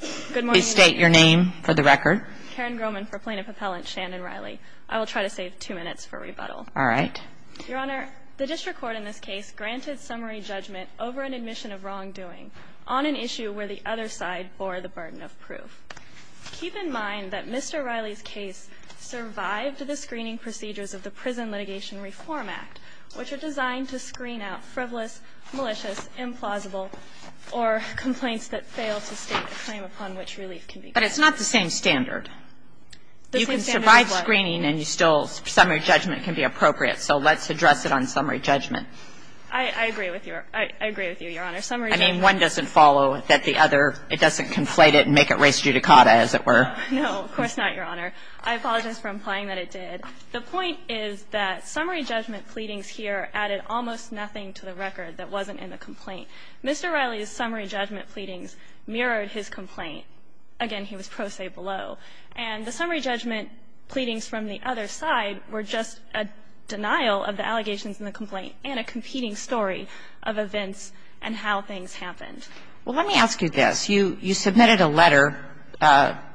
Please state your name for the record. Karen Grohman for Plaintiff Appellant Shannon Riley. I will try to save two minutes for rebuttal. All right. Your Honor, the district court in this case granted summary judgment over an admission of wrongdoing on an issue where the other side bore the burden of proof. Keep in mind that Mr. Riley's case survived the screening procedures of the Prison Litigation Reform Act, which are designed to screen out frivolous, malicious, implausible, or complaints that fail to state a claim upon which relief can be granted. But it's not the same standard. You can survive screening and still summary judgment can be appropriate. So let's address it on summary judgment. I agree with you. I agree with you, Your Honor. Summary judgment. I mean, one doesn't follow that the other doesn't conflate it and make it res judicata, as it were. No, of course not, Your Honor. I apologize for implying that it did. The point is that summary judgment pleadings here added almost nothing to the record that wasn't in the complaint. Mr. Riley's summary judgment pleadings mirrored his complaint. Again, he was pro se below. And the summary judgment pleadings from the other side were just a denial of the allegations in the complaint and a competing story of events and how things happened. Well, let me ask you this. You submitted a letter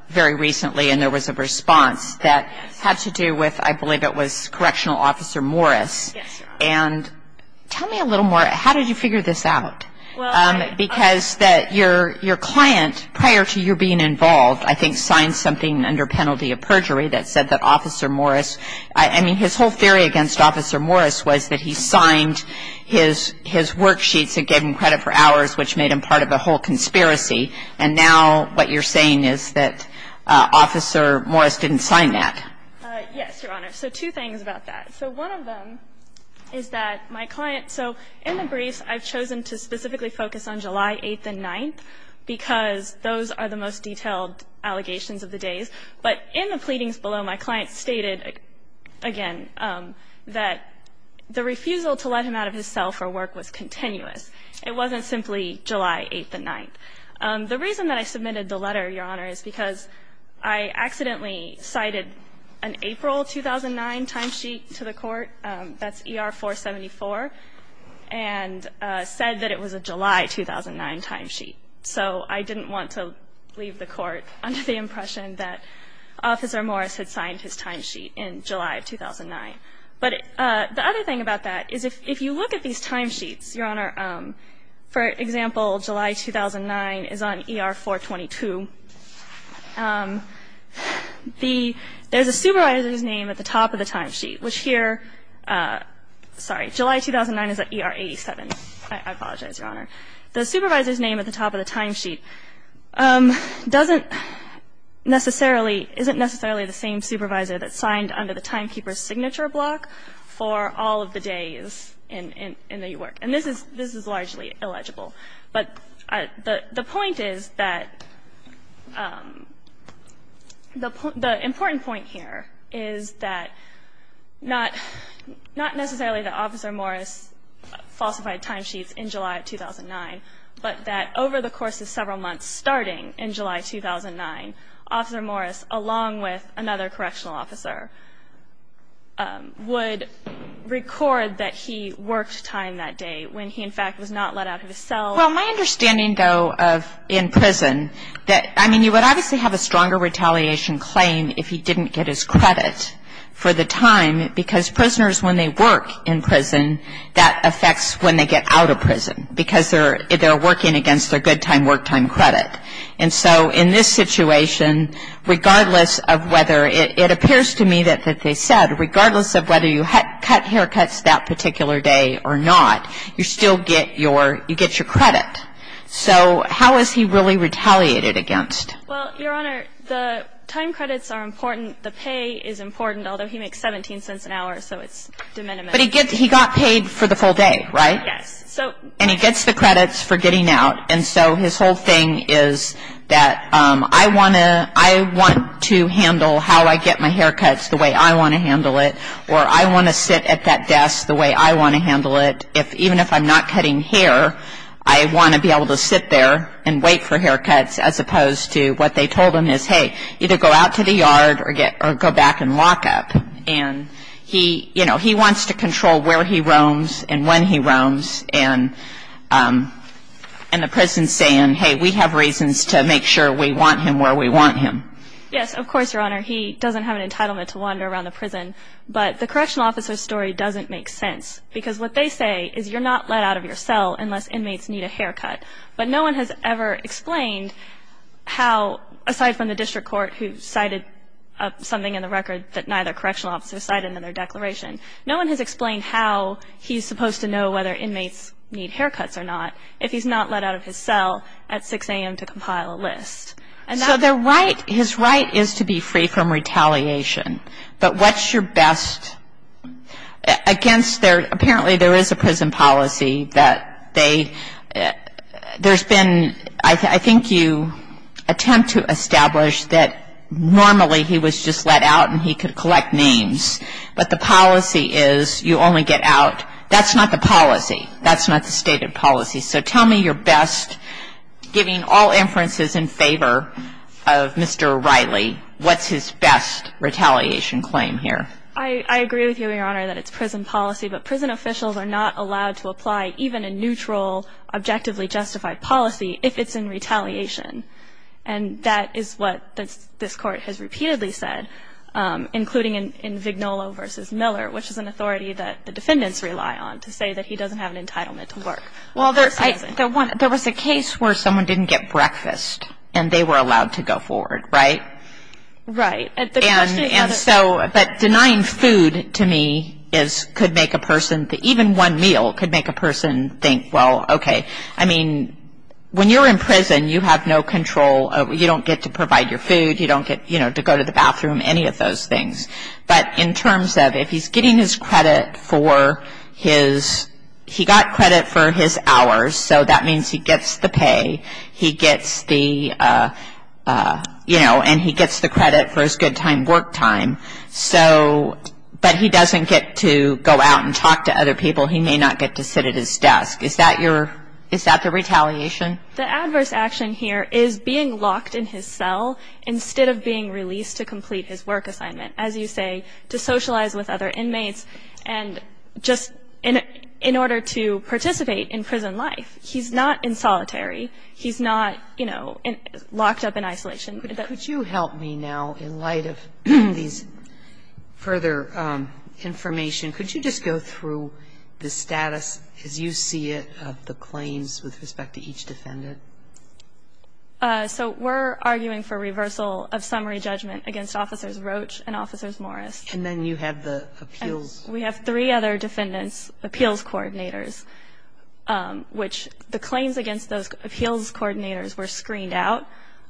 very recently, and there was a response that had to do with, I believe it was, Correctional Officer Morris. Yes, Your Honor. And tell me a little more. How did you figure this out? Because your client, prior to you being involved, I think, signed something under penalty of perjury that said that Officer Morris, I mean, his whole theory against Officer Morris was that he signed his worksheets that gave him credit for conspiracy, and now what you're saying is that Officer Morris didn't sign that. Yes, Your Honor. So two things about that. So one of them is that my client so in the briefs I've chosen to specifically focus on July 8th and 9th because those are the most detailed allegations of the days. But in the pleadings below, my client stated, again, that the refusal to let him out of his cell for work was continuous. It wasn't simply July 8th and 9th. The reason that I submitted the letter, Your Honor, is because I accidentally cited an April 2009 timesheet to the court, that's ER 474, and said that it was a July 2009 timesheet. So I didn't want to leave the court under the impression that Officer Morris had signed his timesheet in July 2009. But the other thing about that is if you look at these timesheets, Your Honor, for example, July 2009 is on ER 422. The ‑‑ there's a supervisor's name at the top of the timesheet, which here, sorry, July 2009 is at ER 87. I apologize, Your Honor. The supervisor's name at the top of the timesheet doesn't necessarily, isn't necessarily the same supervisor that signed under the timekeeper's signature block for all of the days in the work. And this is largely illegible. But the point is that the important point here is that not necessarily that Officer Morris falsified timesheets in July 2009, but that over the course of several months starting in July 2009, would record that he worked time that day when he, in fact, was not let out of his cell. Well, my understanding, though, of in prison that, I mean, you would obviously have a stronger retaliation claim if he didn't get his credit for the time because prisoners, when they work in prison, that affects when they get out of prison because they're working against their good time, work time credit. And so in this situation, regardless of whether, it appears to me that they said, regardless of whether you cut haircuts that particular day or not, you still get your credit. So how is he really retaliated against? Well, Your Honor, the time credits are important. The pay is important, although he makes 17 cents an hour, so it's de minimis. But he got paid for the full day, right? Yes. And he gets the credits for getting out. And so his whole thing is that I want to handle how I get my haircuts the way I want to handle it or I want to sit at that desk the way I want to handle it. Even if I'm not cutting hair, I want to be able to sit there and wait for haircuts as opposed to what they told him is, hey, either go out to the yard or go back and lock up. And, you know, he wants to control where he roams and when he roams. And the prison is saying, hey, we have reasons to make sure we want him where we want him. Yes, of course, Your Honor. He doesn't have an entitlement to wander around the prison. But the correctional officer's story doesn't make sense because what they say is you're not let out of your cell unless inmates need a haircut. But no one has ever explained how, aside from the district court, who cited something in the record that neither correctional officer cited in their declaration, no one has explained how he's supposed to know whether inmates need haircuts or not if he's not let out of his cell at 6 a.m. to compile a list. So their right, his right is to be free from retaliation. But what's your best against their, apparently there is a prison policy that they, there's been, I think you attempt to establish that normally he was just let out and he could collect names. But the policy is you only get out. That's not the policy. That's not the stated policy. So tell me your best, giving all inferences in favor of Mr. Riley, what's his best retaliation claim here? I agree with you, Your Honor, that it's prison policy. But prison officials are not allowed to apply even a neutral, objectively justified policy if it's in retaliation. And that is what this Court has repeatedly said, including in Vignolo v. Miller, which is an authority that the defendants rely on to say that he doesn't have an entitlement to work. Well, there was a case where someone didn't get breakfast and they were allowed to go forward, right? Right. And so, but denying food to me could make a person, even one meal could make a person think, well, okay. I mean, when you're in prison, you have no control. You don't get to provide your food. You don't get, you know, to go to the bathroom, any of those things. But in terms of if he's getting his credit for his, he got credit for his hours, so that means he gets the pay. He gets the, you know, and he gets the credit for his good time, work time. So, but he doesn't get to go out and talk to other people. He may not get to sit at his desk. Is that your, is that the retaliation? The adverse action here is being locked in his cell instead of being released to complete his work assignment. As you say, to socialize with other inmates and just in order to participate in prison life. He's not in solitary. He's not, you know, locked up in isolation. Could you help me now in light of these further information? Could you just go through the status as you see it of the claims with respect to each defendant? So we're arguing for reversal of summary judgment against Officers Roach and Officers Morris. And then you have the appeals. We have three other defendants' appeals coordinators, which the claims against those appeals coordinators were screened out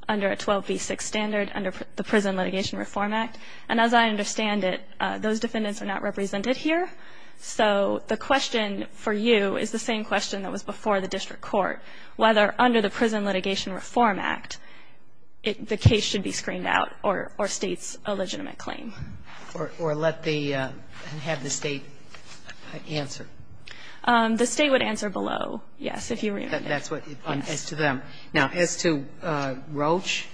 under a 12b6 standard under the Prison Litigation Reform Act. And as I understand it, those defendants are not represented here. So the question for you is the same question that was before the district court, whether under the Prison Litigation Reform Act the case should be screened out or state's a legitimate claim. Or let the, have the State answer. The State would answer below, yes, if you remember. That's what, as to them. Now, as to Roach?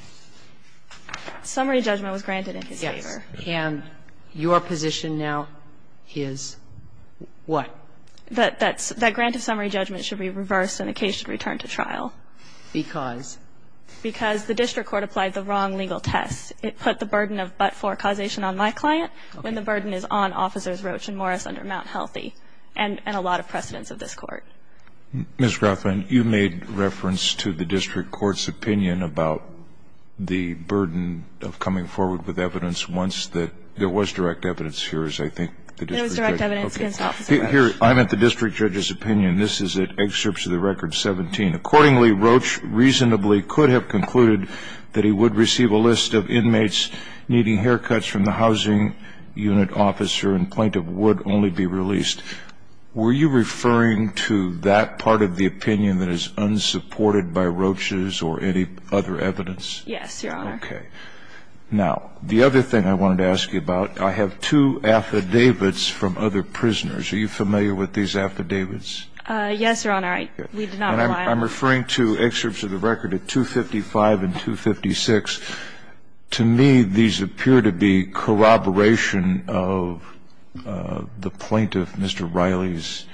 Summary judgment was granted in his case. Yes. And your position now is what? That grant of summary judgment should be reversed and the case should return to trial. Because? Because the district court applied the wrong legal test. It put the burden of but-for causation on my client when the burden is on Officers Roach and Morris under Mount Healthy and a lot of precedents of this Court. Ms. Rothman, you made reference to the district court's opinion about the burden of coming forward with evidence once that there was direct evidence here, as I think the district judge. There was direct evidence against Officer Roach. Here, I'm at the district judge's opinion. This is at excerpts of the record 17. Accordingly, Roach reasonably could have concluded that he would receive a list of inmates needing haircuts from the housing unit officer and plaintiff would only be released. Were you referring to that part of the opinion that is unsupported by Roach's or any other evidence? Yes, Your Honor. Okay. Now, the other thing I wanted to ask you about, I have two affidavits from other prisoners. Are you familiar with these affidavits? Yes, Your Honor. We do not rely on them. I'm referring to excerpts of the record of 255 and 256. To me, these appear to be corroboration of the plaintiff, Mr. Riley's,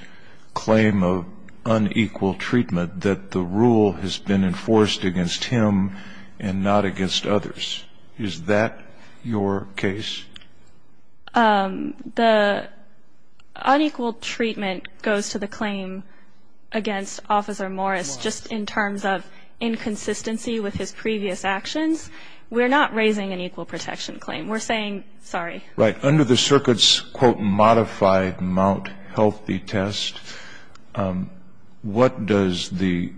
claim of unequal treatment that the rule has been enforced against him and not against others. Is that your case? The unequal treatment goes to the claim against Officer Morris just in terms of inconsistency with his previous actions. We're not raising an equal protection claim. We're saying sorry. Right. Under the circuit's, quote, modified Mount Healthy test, what does the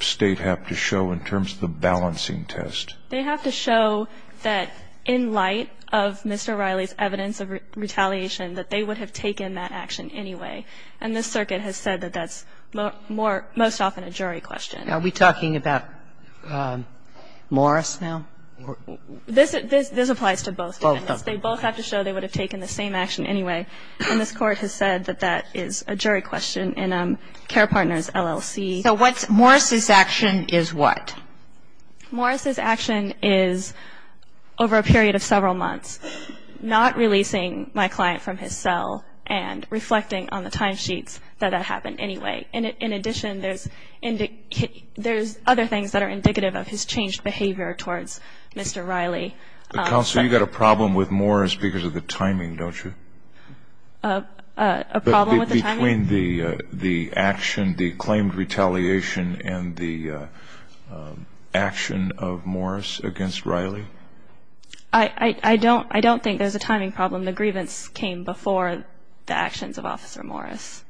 State have to show in terms of the balancing test? They have to show that in light of Mr. Riley's evidence of retaliation, that they would have taken that action anyway. And the circuit has said that that's most often a jury question. Are we talking about Morris now? This applies to both defendants. Both defendants. Both have to show they would have taken the same action anyway. And this Court has said that that is a jury question in Care Partners, LLC. So what's Morris's action is what? Morris's action is, over a period of several months, not releasing my client from his cell and reflecting on the timesheets that that happened anyway. In addition, there's other things that are indicative of his changed behavior towards Mr. Riley. Counsel, you've got a problem with Morris because of the timing, don't you? A problem with the timing? Between the action, the claimed retaliation, and the action of Morris against Riley. I don't think there's a timing problem. The grievance came before the actions of Officer Morris.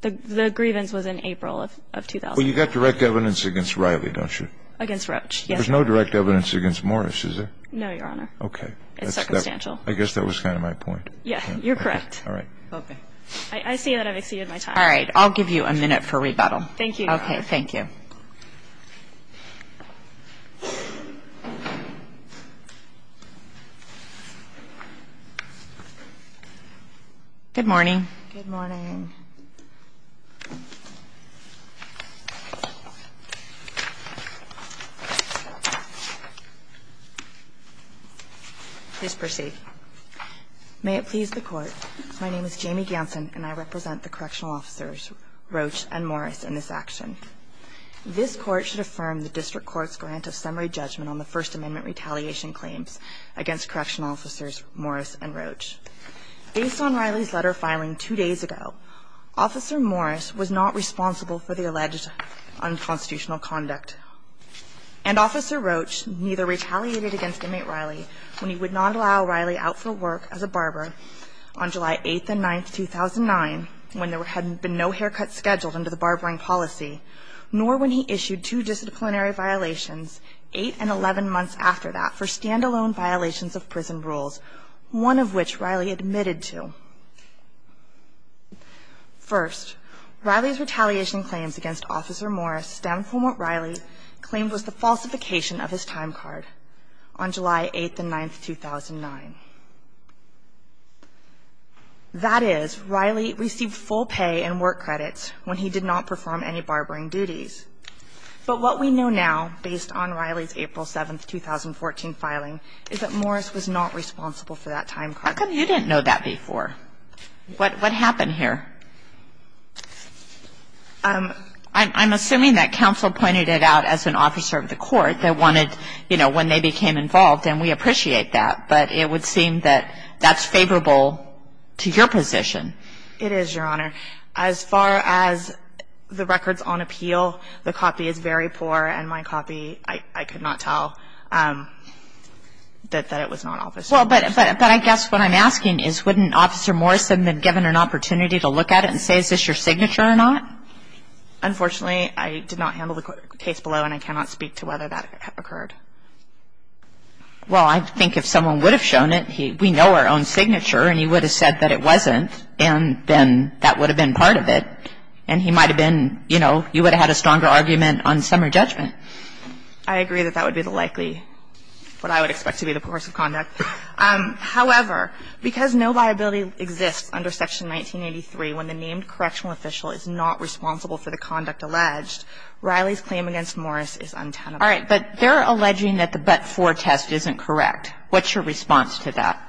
The grievance was in April of 2000. Well, you've got direct evidence against Riley, don't you? Against Roach, yes. There's no direct evidence against Morris, is there? No, Your Honor. Okay. It's circumstantial. I guess that was kind of my point. Yeah, you're correct. All right. Okay. I see that I've exceeded my time. All right. I'll give you a minute for rebuttal. Thank you, Your Honor. Okay, thank you. Good morning. Good morning. Please proceed. May it please the Court, my name is Jamie Ganson, and I represent the correctional officers Roach and Morris in this action. This Court should affirm the district court's grant of summary judgment on the First Amendment retaliation claims against correctional officers Morris and Roach. Based on Riley's letter filing two days ago, Officer Morris was not responsible for the alleged unconstitutional conduct, and Officer Roach neither retaliated against Inmate Riley when he would not allow Riley out for work as a barber on July 8th and 9th, 2009, when there had been no haircuts scheduled under the barbering policy, nor when he issued two disciplinary violations eight and 11 months after that for stand-alone violations of prison rules, one of which Riley admitted to. First, Riley's retaliation claims against Officer Morris stem from what Riley claimed was the falsification of his time card on July 8th and 9th, 2009. That is, Riley received full pay and work credits when he did not perform any barbering duties. But what we know now, based on Riley's April 7th, 2014 filing, is that Morris was not responsible for that time card. Kagan, you didn't know that before. What happened here? I'm assuming that counsel pointed it out as an officer of the court that wanted to, you know, when they became involved, and we appreciate that, but it would seem that that's favorable to your position. It is, Your Honor. As far as the records on appeal, the copy is very poor, and my copy, I could not tell that it was not officer of the court. Well, but I guess what I'm asking is wouldn't Officer Morris have been given an opportunity to look at it and say, is this your signature or not? Unfortunately, I did not handle the case below, and I cannot speak to whether that occurred. Well, I think if someone would have shown it, we know our own signature, and he would have been part of it, and he might have been, you know, you would have had a stronger argument on summary judgment. I agree that that would be the likely, what I would expect to be the course of conduct. However, because no viability exists under Section 1983 when the named correctional official is not responsible for the conduct alleged, Riley's claim against Morris is untenable. All right. But they're alleging that the but-for test isn't correct. What's your response to that?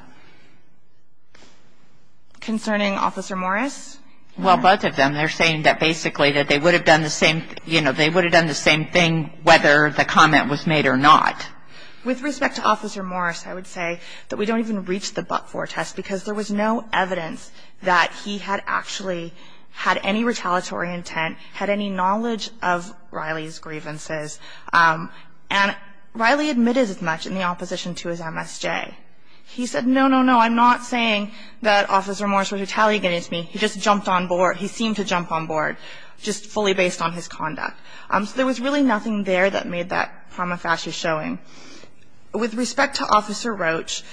Concerning Officer Morris? Well, both of them, they're saying that basically that they would have done the same thing, you know, they would have done the same thing whether the comment was made or not. With respect to Officer Morris, I would say that we don't even reach the but-for test because there was no evidence that he had actually had any retaliatory intent, had any knowledge of Riley's grievances. And Riley admitted as much in the opposition to his MSJ. He said, no, no, no, I'm not saying that Officer Morris was retaliating against me. He just jumped on board. He seemed to jump on board just fully based on his conduct. So there was really nothing there that made that prima facie showing. With respect to Officer Roach,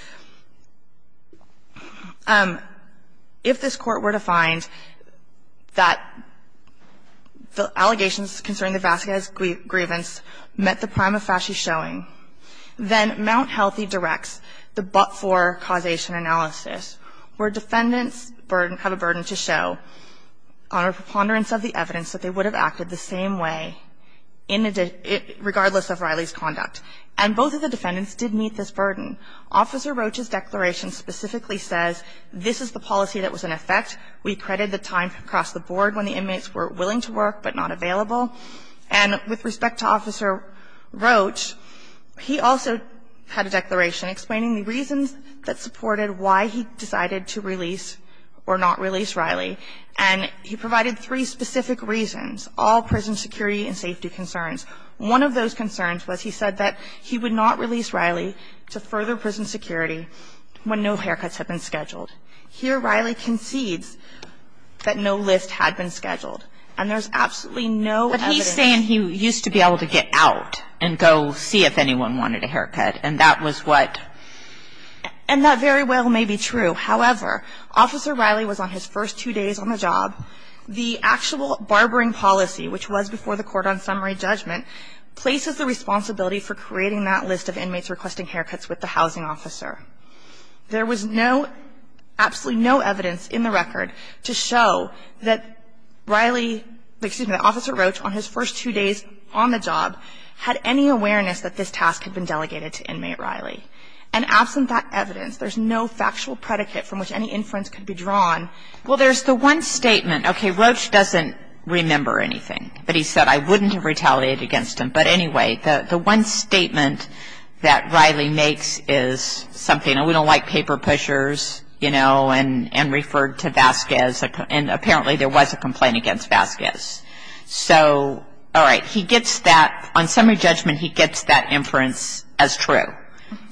if this Court were to find that the allegations concerning the Vasquez grievance met the prima facie showing, then Mount Healthy Direct's the but-for causation analysis, where defendants have a burden to show on a preponderance of the evidence that they would have acted the same way regardless of Riley's conduct. And both of the defendants did meet this burden. Officer Roach's declaration specifically says this is the policy that was in effect. We credit the time across the board when the inmates were willing to work but not available. And with respect to Officer Roach, he also had a declaration explaining the reasons that supported why he decided to release or not release Riley. And he provided three specific reasons, all prison security and safety concerns. One of those concerns was he said that he would not release Riley to further prison security when no haircuts had been scheduled. Here Riley concedes that no list had been scheduled. And there's absolutely no evidence. But he's saying he used to be able to get out and go see if anyone wanted a haircut. And that was what? And that very well may be true. However, Officer Riley was on his first two days on the job. The actual barbering policy, which was before the court on summary judgment, places the responsibility for creating that list of inmates requesting haircuts with the housing officer. There was no, absolutely no evidence in the record to show that Riley, excuse me, that Officer Roach on his first two days on the job had any awareness that this task had been delegated to inmate Riley. And absent that evidence, there's no factual predicate from which any inference could be drawn. Well, there's the one statement. Okay. Roach doesn't remember anything. But he said I wouldn't have retaliated against him. But anyway, the one statement that Riley makes is something, and we don't like paper pushers, you know, and referred to Vasquez. And apparently there was a complaint against Vasquez. So, all right, he gets that. On summary judgment, he gets that inference as true.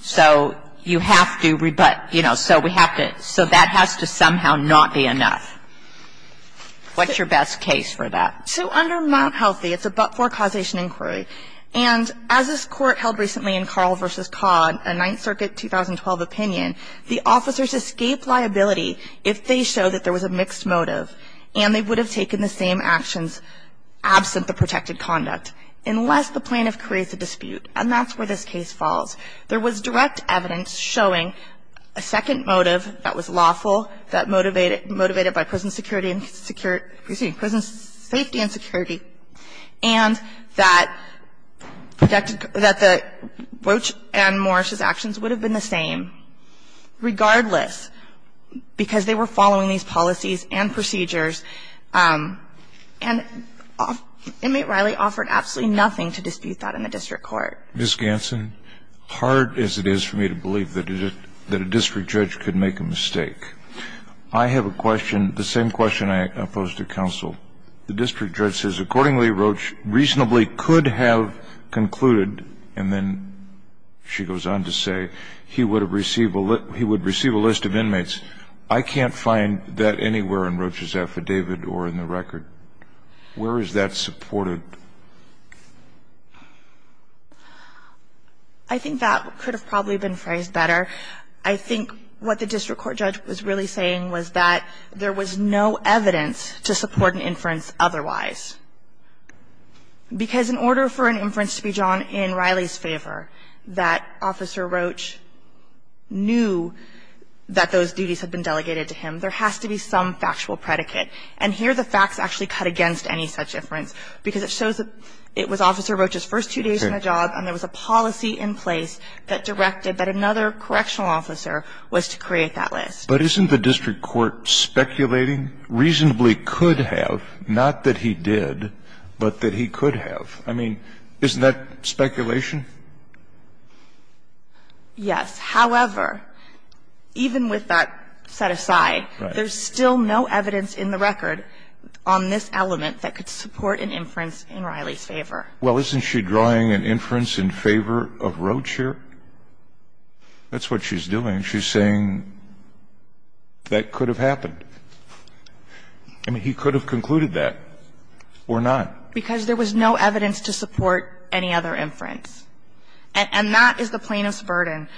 So you have to, you know, so we have to, so that has to somehow not be enough. What's your best case for that? So under Mount Healthy, it's a but-for causation inquiry. And as this Court held recently in Carl v. Codd, a Ninth Circuit 2012 opinion, the officers escape liability if they show that there was a mixed motive and they would have taken the same actions absent the protected conduct unless the plaintiff creates a dispute. And that's where this case falls. There was direct evidence showing a second motive that was lawful, that motivated by prison security and security, excuse me, prison safety and security, and that protected, that the Roach and Morris's actions would have been the same regardless because they were following these policies and procedures. And Inmate Riley offered absolutely nothing to dispute that in the district court. Mr. Ganson, hard as it is for me to believe that a district judge could make a mistake, I have a question, the same question I pose to counsel. The district judge says, accordingly, Roach reasonably could have concluded, and then she goes on to say, he would have received a list of inmates. I can't find that anywhere in Roach's affidavit or in the record. Where is that supported? I think that could have probably been phrased better. I think what the district court judge was really saying was that there was no evidence to support an inference otherwise, because in order for an inference to be drawn in Riley's favor, that Officer Roach knew that those duties had been delegated to him, there has to be some factual predicate. And here the facts actually cut against any such inference, because it shows that it was Officer Roach's first two days in the job and there was a policy in place that directed that another correctional officer was to create that list. But isn't the district court speculating reasonably could have, not that he did, but that he could have? I mean, isn't that speculation? Yes. However, even with that set aside, there's still no evidence in the record on this element that could support an inference in Riley's favor. Well, isn't she drawing an inference in favor of Roach here? That's what she's doing. She's saying that could have happened. I mean, he could have concluded that or not. Because there was no evidence to support any other inference. And that is the plaintiff's burden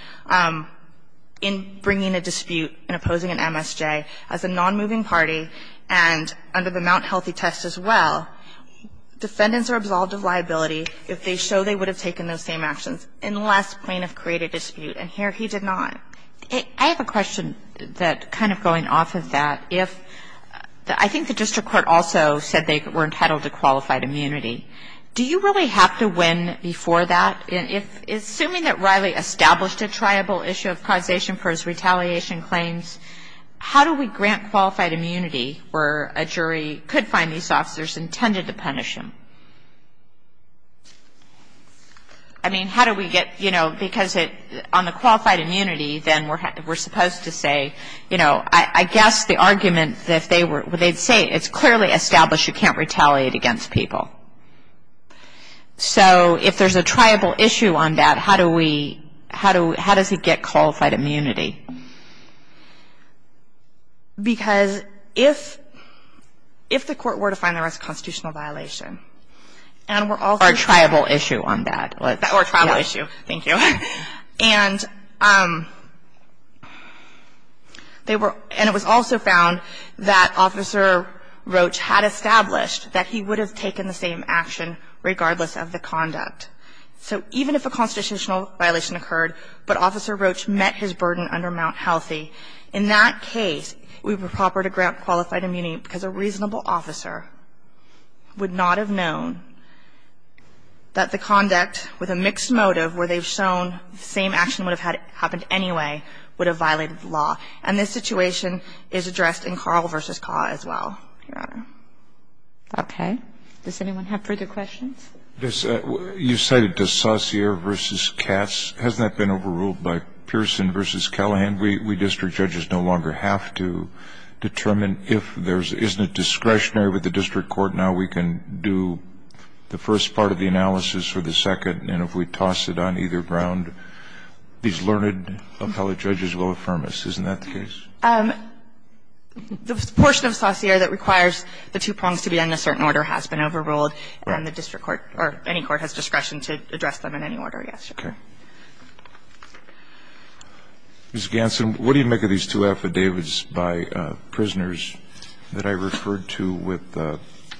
in bringing a dispute and opposing an MSJ as a nonmoving party and under the Mount Healthy test as well. Defendants are absolved of liability if they show they would have taken those same actions, unless plaintiff created a dispute. And here he did not. I have a question that kind of going off of that. If the – I think the district court also said they were entitled to qualified immunity. Do you really have to win before that? Assuming that Riley established a triable issue of causation for his retaliation claims, how do we grant qualified immunity where a jury could find these officers intended to punish him? I mean, how do we get, you know, because on the qualified immunity, then we're supposed to say, you know, I guess the argument that they were – they'd say it's clearly established you can't retaliate against people. So if there's a triable issue on that, how do we – how does he get qualified immunity? Because if – if the court were to find there was a constitutional violation, and we're also – Or a triable issue on that. Or a triable issue. Thank you. And they were – and it was also found that Officer Roach had established that he would have taken the same action regardless of the conduct. So even if a constitutional violation occurred, but Officer Roach met his burden under Mount Healthy, in that case, it would be proper to grant qualified immunity because a reasonable officer would not have known that the conduct with a mixed motive where they've shown the same action would have happened anyway would have violated the law. And this situation is addressed in Carl v. Caw as well, Your Honor. Okay. Does anyone have further questions? You cited the Saussure v. Katz. Hasn't that been overruled by Pearson v. Callahan? We district judges no longer have to determine if there's – isn't it discretionary with the district court now we can do the first part of the analysis for the second, and if we toss it on either ground, these learned appellate judges will affirm Isn't that the case? The portion of Saussure that requires the two prongs to be in a certain order has been overruled, and the district court or any court has discretion to address them in any order, yes, Your Honor. Okay. Ms. Ganson, what do you make of these two affidavits by prisoners that I referred to with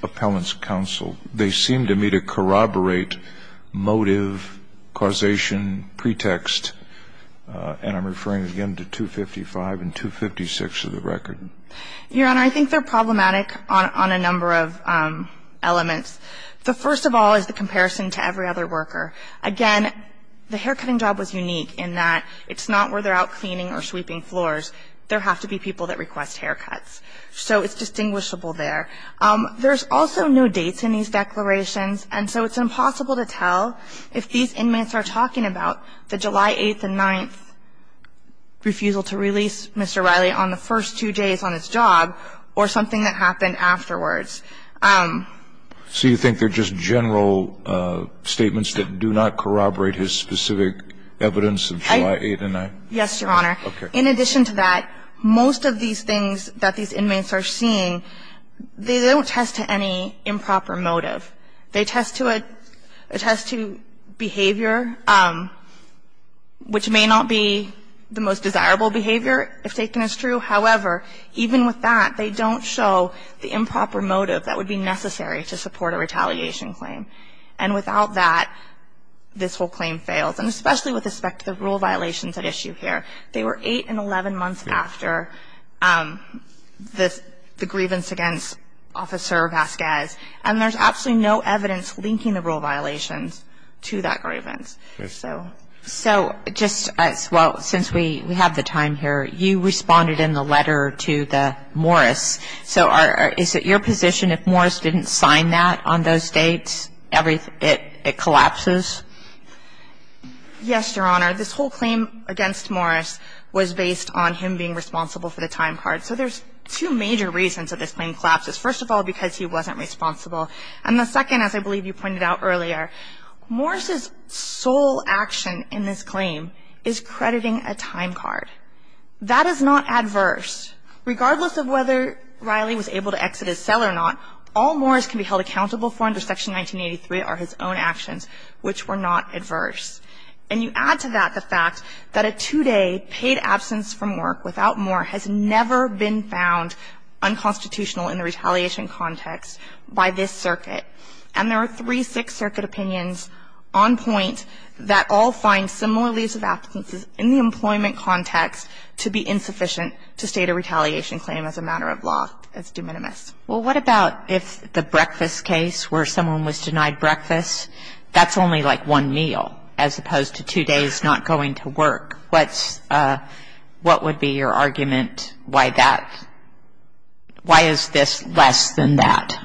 appellants counsel? They seem to me to corroborate motive, causation, pretext, and I'm referring again to 255 and 256 of the record. Your Honor, I think they're problematic on a number of elements. The first of all is the comparison to every other worker. Again, the haircutting job was unique in that it's not where they're out cleaning or sweeping floors. There have to be people that request haircuts. So it's distinguishable there. There's also no dates in these declarations, and so it's impossible to tell if these are just general statements that do not corroborate his specific evidence of July 8th and 9th. Yes, Your Honor. Okay. In addition to that, most of these things that these inmates are seeing, they don't test to any improper motive. They test to a ‑‑ a test to behavior. Which may not be the most desirable behavior, if taken as true. However, even with that, they don't show the improper motive that would be necessary to support a retaliation claim. And without that, this whole claim fails. And especially with respect to the rule violations at issue here. They were 8 and 11 months after the grievance against Officer Vasquez, and there's absolutely no evidence linking the rule violations to that grievance. So, just as well, since we have the time here, you responded in the letter to the Morris. So is it your position if Morris didn't sign that on those dates, it collapses? Yes, Your Honor. This whole claim against Morris was based on him being responsible for the time card. So there's two major reasons that this claim collapses. First of all, because he wasn't responsible. And the second, as I believe you pointed out earlier, Morris's sole action in this claim is crediting a time card. That is not adverse. Regardless of whether Riley was able to exit his cell or not, all Morris can be held accountable for under Section 1983 are his own actions, which were not adverse. And you add to that the fact that a two-day paid absence from work without Morris has never been found unconstitutional in the retaliation context by this circuit. And there are three Sixth Circuit opinions on point that all find similar leaves of absence in the employment context to be insufficient to state a retaliation claim as a matter of law. It's de minimis. Well, what about if the breakfast case where someone was denied breakfast, that's only like one meal as opposed to two days not going to work? What would be your argument? Why is this less than that?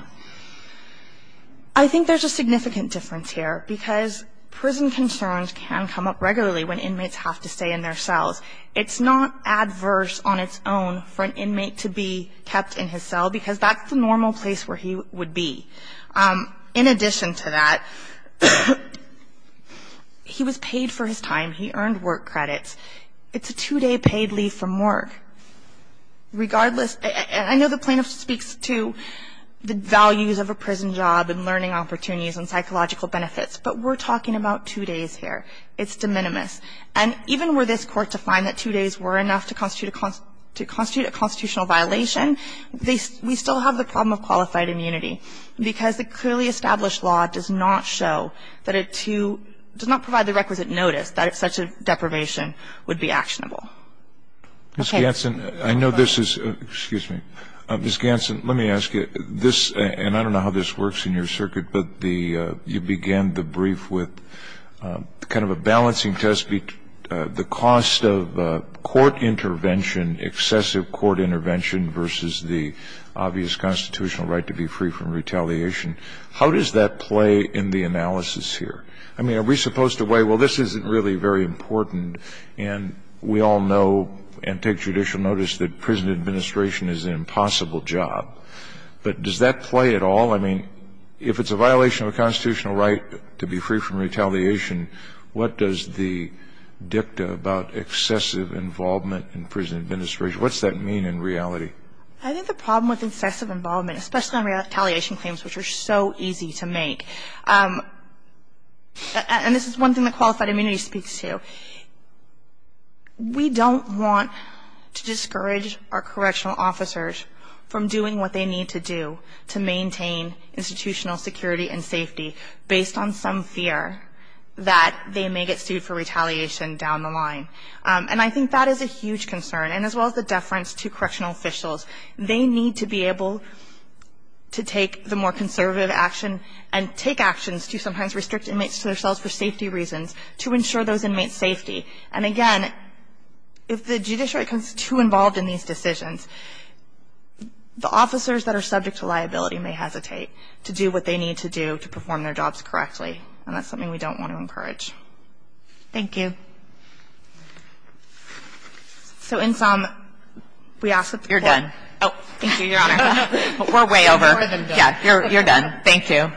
I think there's a significant difference here because prison concerns can come up regularly when inmates have to stay in their cells. It's not adverse on its own for an inmate to be kept in his cell because that's the normal place where he would be. In addition to that, he was paid for his time. He earned work credits. It's a two-day paid leave from work regardless. I know the plaintiff speaks to the values of a prison job and learning opportunities and psychological benefits, but we're talking about two days here. It's de minimis. And even were this Court to find that two days were enough to constitute a constitutional right, I think the question is, how do we make it so that such a deprivation would be actionable? Okay. Ms. Ganson, I know this is ‑‑ excuse me. Ms. Ganson, let me ask you, this ‑‑ and I don't know how this works in your circuit, but the ‑‑ you began the brief with kind of a balancing test between the cost of court intervention, excessive court intervention versus the obvious constitutional right to be free from retaliation. How does that play in the analysis here? I mean, are we supposed to weigh, well, this isn't really very important, and we all know and take judicial notice that prison administration is an impossible job, but does that play at all? I mean, if it's a violation of a constitutional right to be free from retaliation, what does the dicta about excessive involvement in prison administration, what does that mean in reality? I think the problem with excessive involvement, especially on retaliation claims, which are so easy to make, and this is one thing that qualified immunity speaks to, we don't want to discourage our correctional officers from doing what they need to do to maintain institutional security and safety based on some fear that they may get sued for retaliation down the line. And I think that is a huge concern. And as well as the deference to correctional officials, they need to be able to take the more conservative action and take actions to sometimes restrict inmates to their cells for safety reasons to ensure those inmates' safety. And, again, if the judiciary becomes too involved in these decisions, the officers that are subject to liability may hesitate to do what they need to do to perform their jobs correctly, and that's something we don't want to encourage. Thank you. So in sum, we ask that the Court ---- You're done. Thank you, Your Honor. We're way over. You're done. Thank you.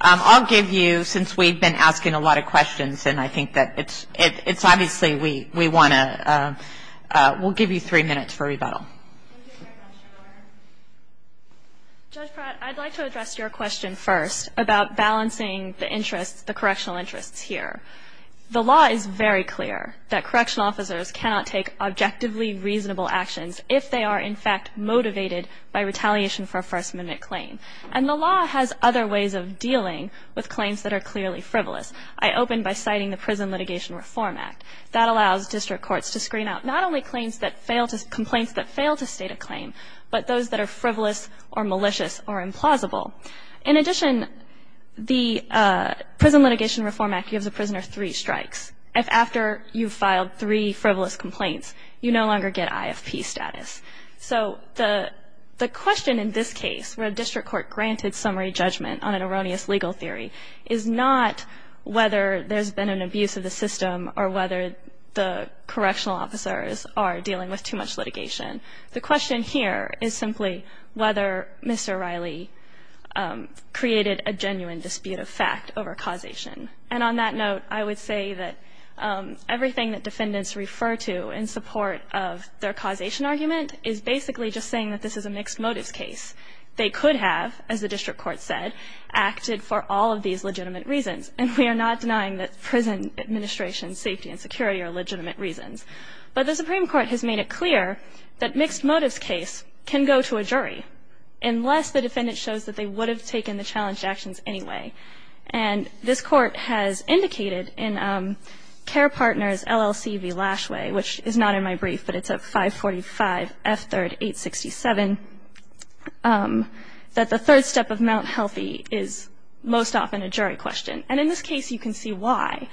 I'll give you, since we've been asking a lot of questions, and I think that it's obviously we want to we'll give you three minutes for rebuttal. Judge Pratt, I'd like to address your question first about balancing the interests, the correctional interests here. The law is very clear that correctional officers cannot take objectively reasonable actions if they are, in fact, motivated by retaliation for a First Amendment claim. And the law has other ways of dealing with claims that are clearly frivolous. I open by citing the Prison Litigation Reform Act. That allows district courts to screen out not only complaints that fail to state a claim, but those that are frivolous or malicious or implausible. In addition, the Prison Litigation Reform Act gives a prisoner three strikes. If after you've filed three frivolous complaints, you no longer get IFP status. So the question in this case where a district court granted summary judgment on an erroneous legal theory is not whether there's been an abuse of the system or whether the correctional officers are dealing with too much litigation. The question here is simply whether Mr. Riley created a genuine dispute of fact over causation. And on that note, I would say that everything that defendants refer to in support of their causation argument is basically just saying that this is a mixed motives case. They could have, as the district court said, acted for all of these legitimate reasons. And we are not denying that prison administration safety and security are legitimate reasons. But the Supreme Court has made it clear that mixed motives case can go to a jury unless the defendant shows that they would have taken the challenged actions anyway. And this Court has indicated in Care Partners LLC v. Lashway, which is not in my brief, but it's at 545 F3rd 867, that the third step of Mount Healthy is most often a jury question. And in this case, you can see why.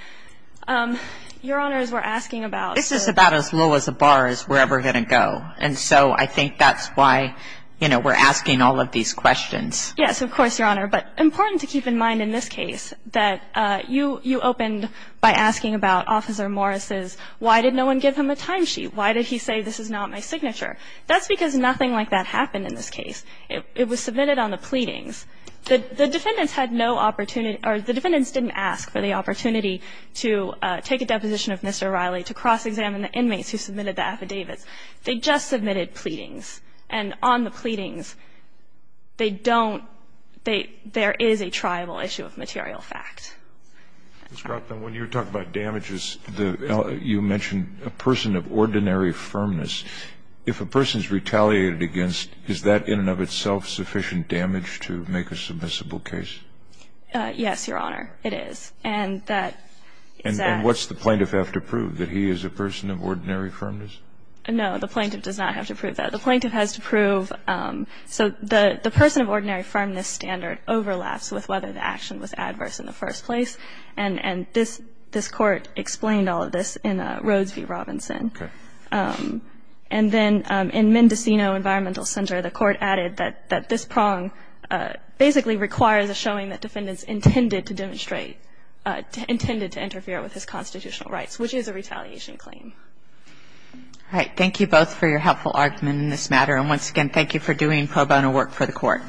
Your Honors, we're asking about the ---- This is about as low as a bar is we're ever going to go. And so I think that's why, you know, we're asking all of these questions. Yes, of course, Your Honor. But important to keep in mind in this case that you opened by asking about Officer Morris's why did no one give him a timesheet? Why did he say this is not my signature? That's because nothing like that happened in this case. It was submitted on the pleadings. The defendants had no opportunity or the defendants didn't ask for the opportunity to take a deposition of Mr. O'Reilly to cross-examine the inmates who submitted the affidavits. They just submitted pleadings. And on the pleadings, they don't they there is a triable issue of material fact. Ms. Crofton, when you talk about damages, you mentioned a person of ordinary firmness. If a person is retaliated against, is that in and of itself sufficient damage to make a submissible case? Yes, Your Honor, it is. And that is that. And what's the plaintiff have to prove, that he is a person of ordinary firmness? No, the plaintiff does not have to prove that. The plaintiff has to prove so the person of ordinary firmness standard overlaps with whether the action was adverse in the first place. And this Court explained all of this in Rhodes v. Robinson. Okay. And then in Mendocino Environmental Center, the Court added that this prong basically requires a showing that defendants intended to demonstrate, intended to interfere with his constitutional rights, which is a retaliation claim. All right. Thank you both for your helpful argument in this matter. And once again, thank you for doing pro bono work for the Court. Thank you.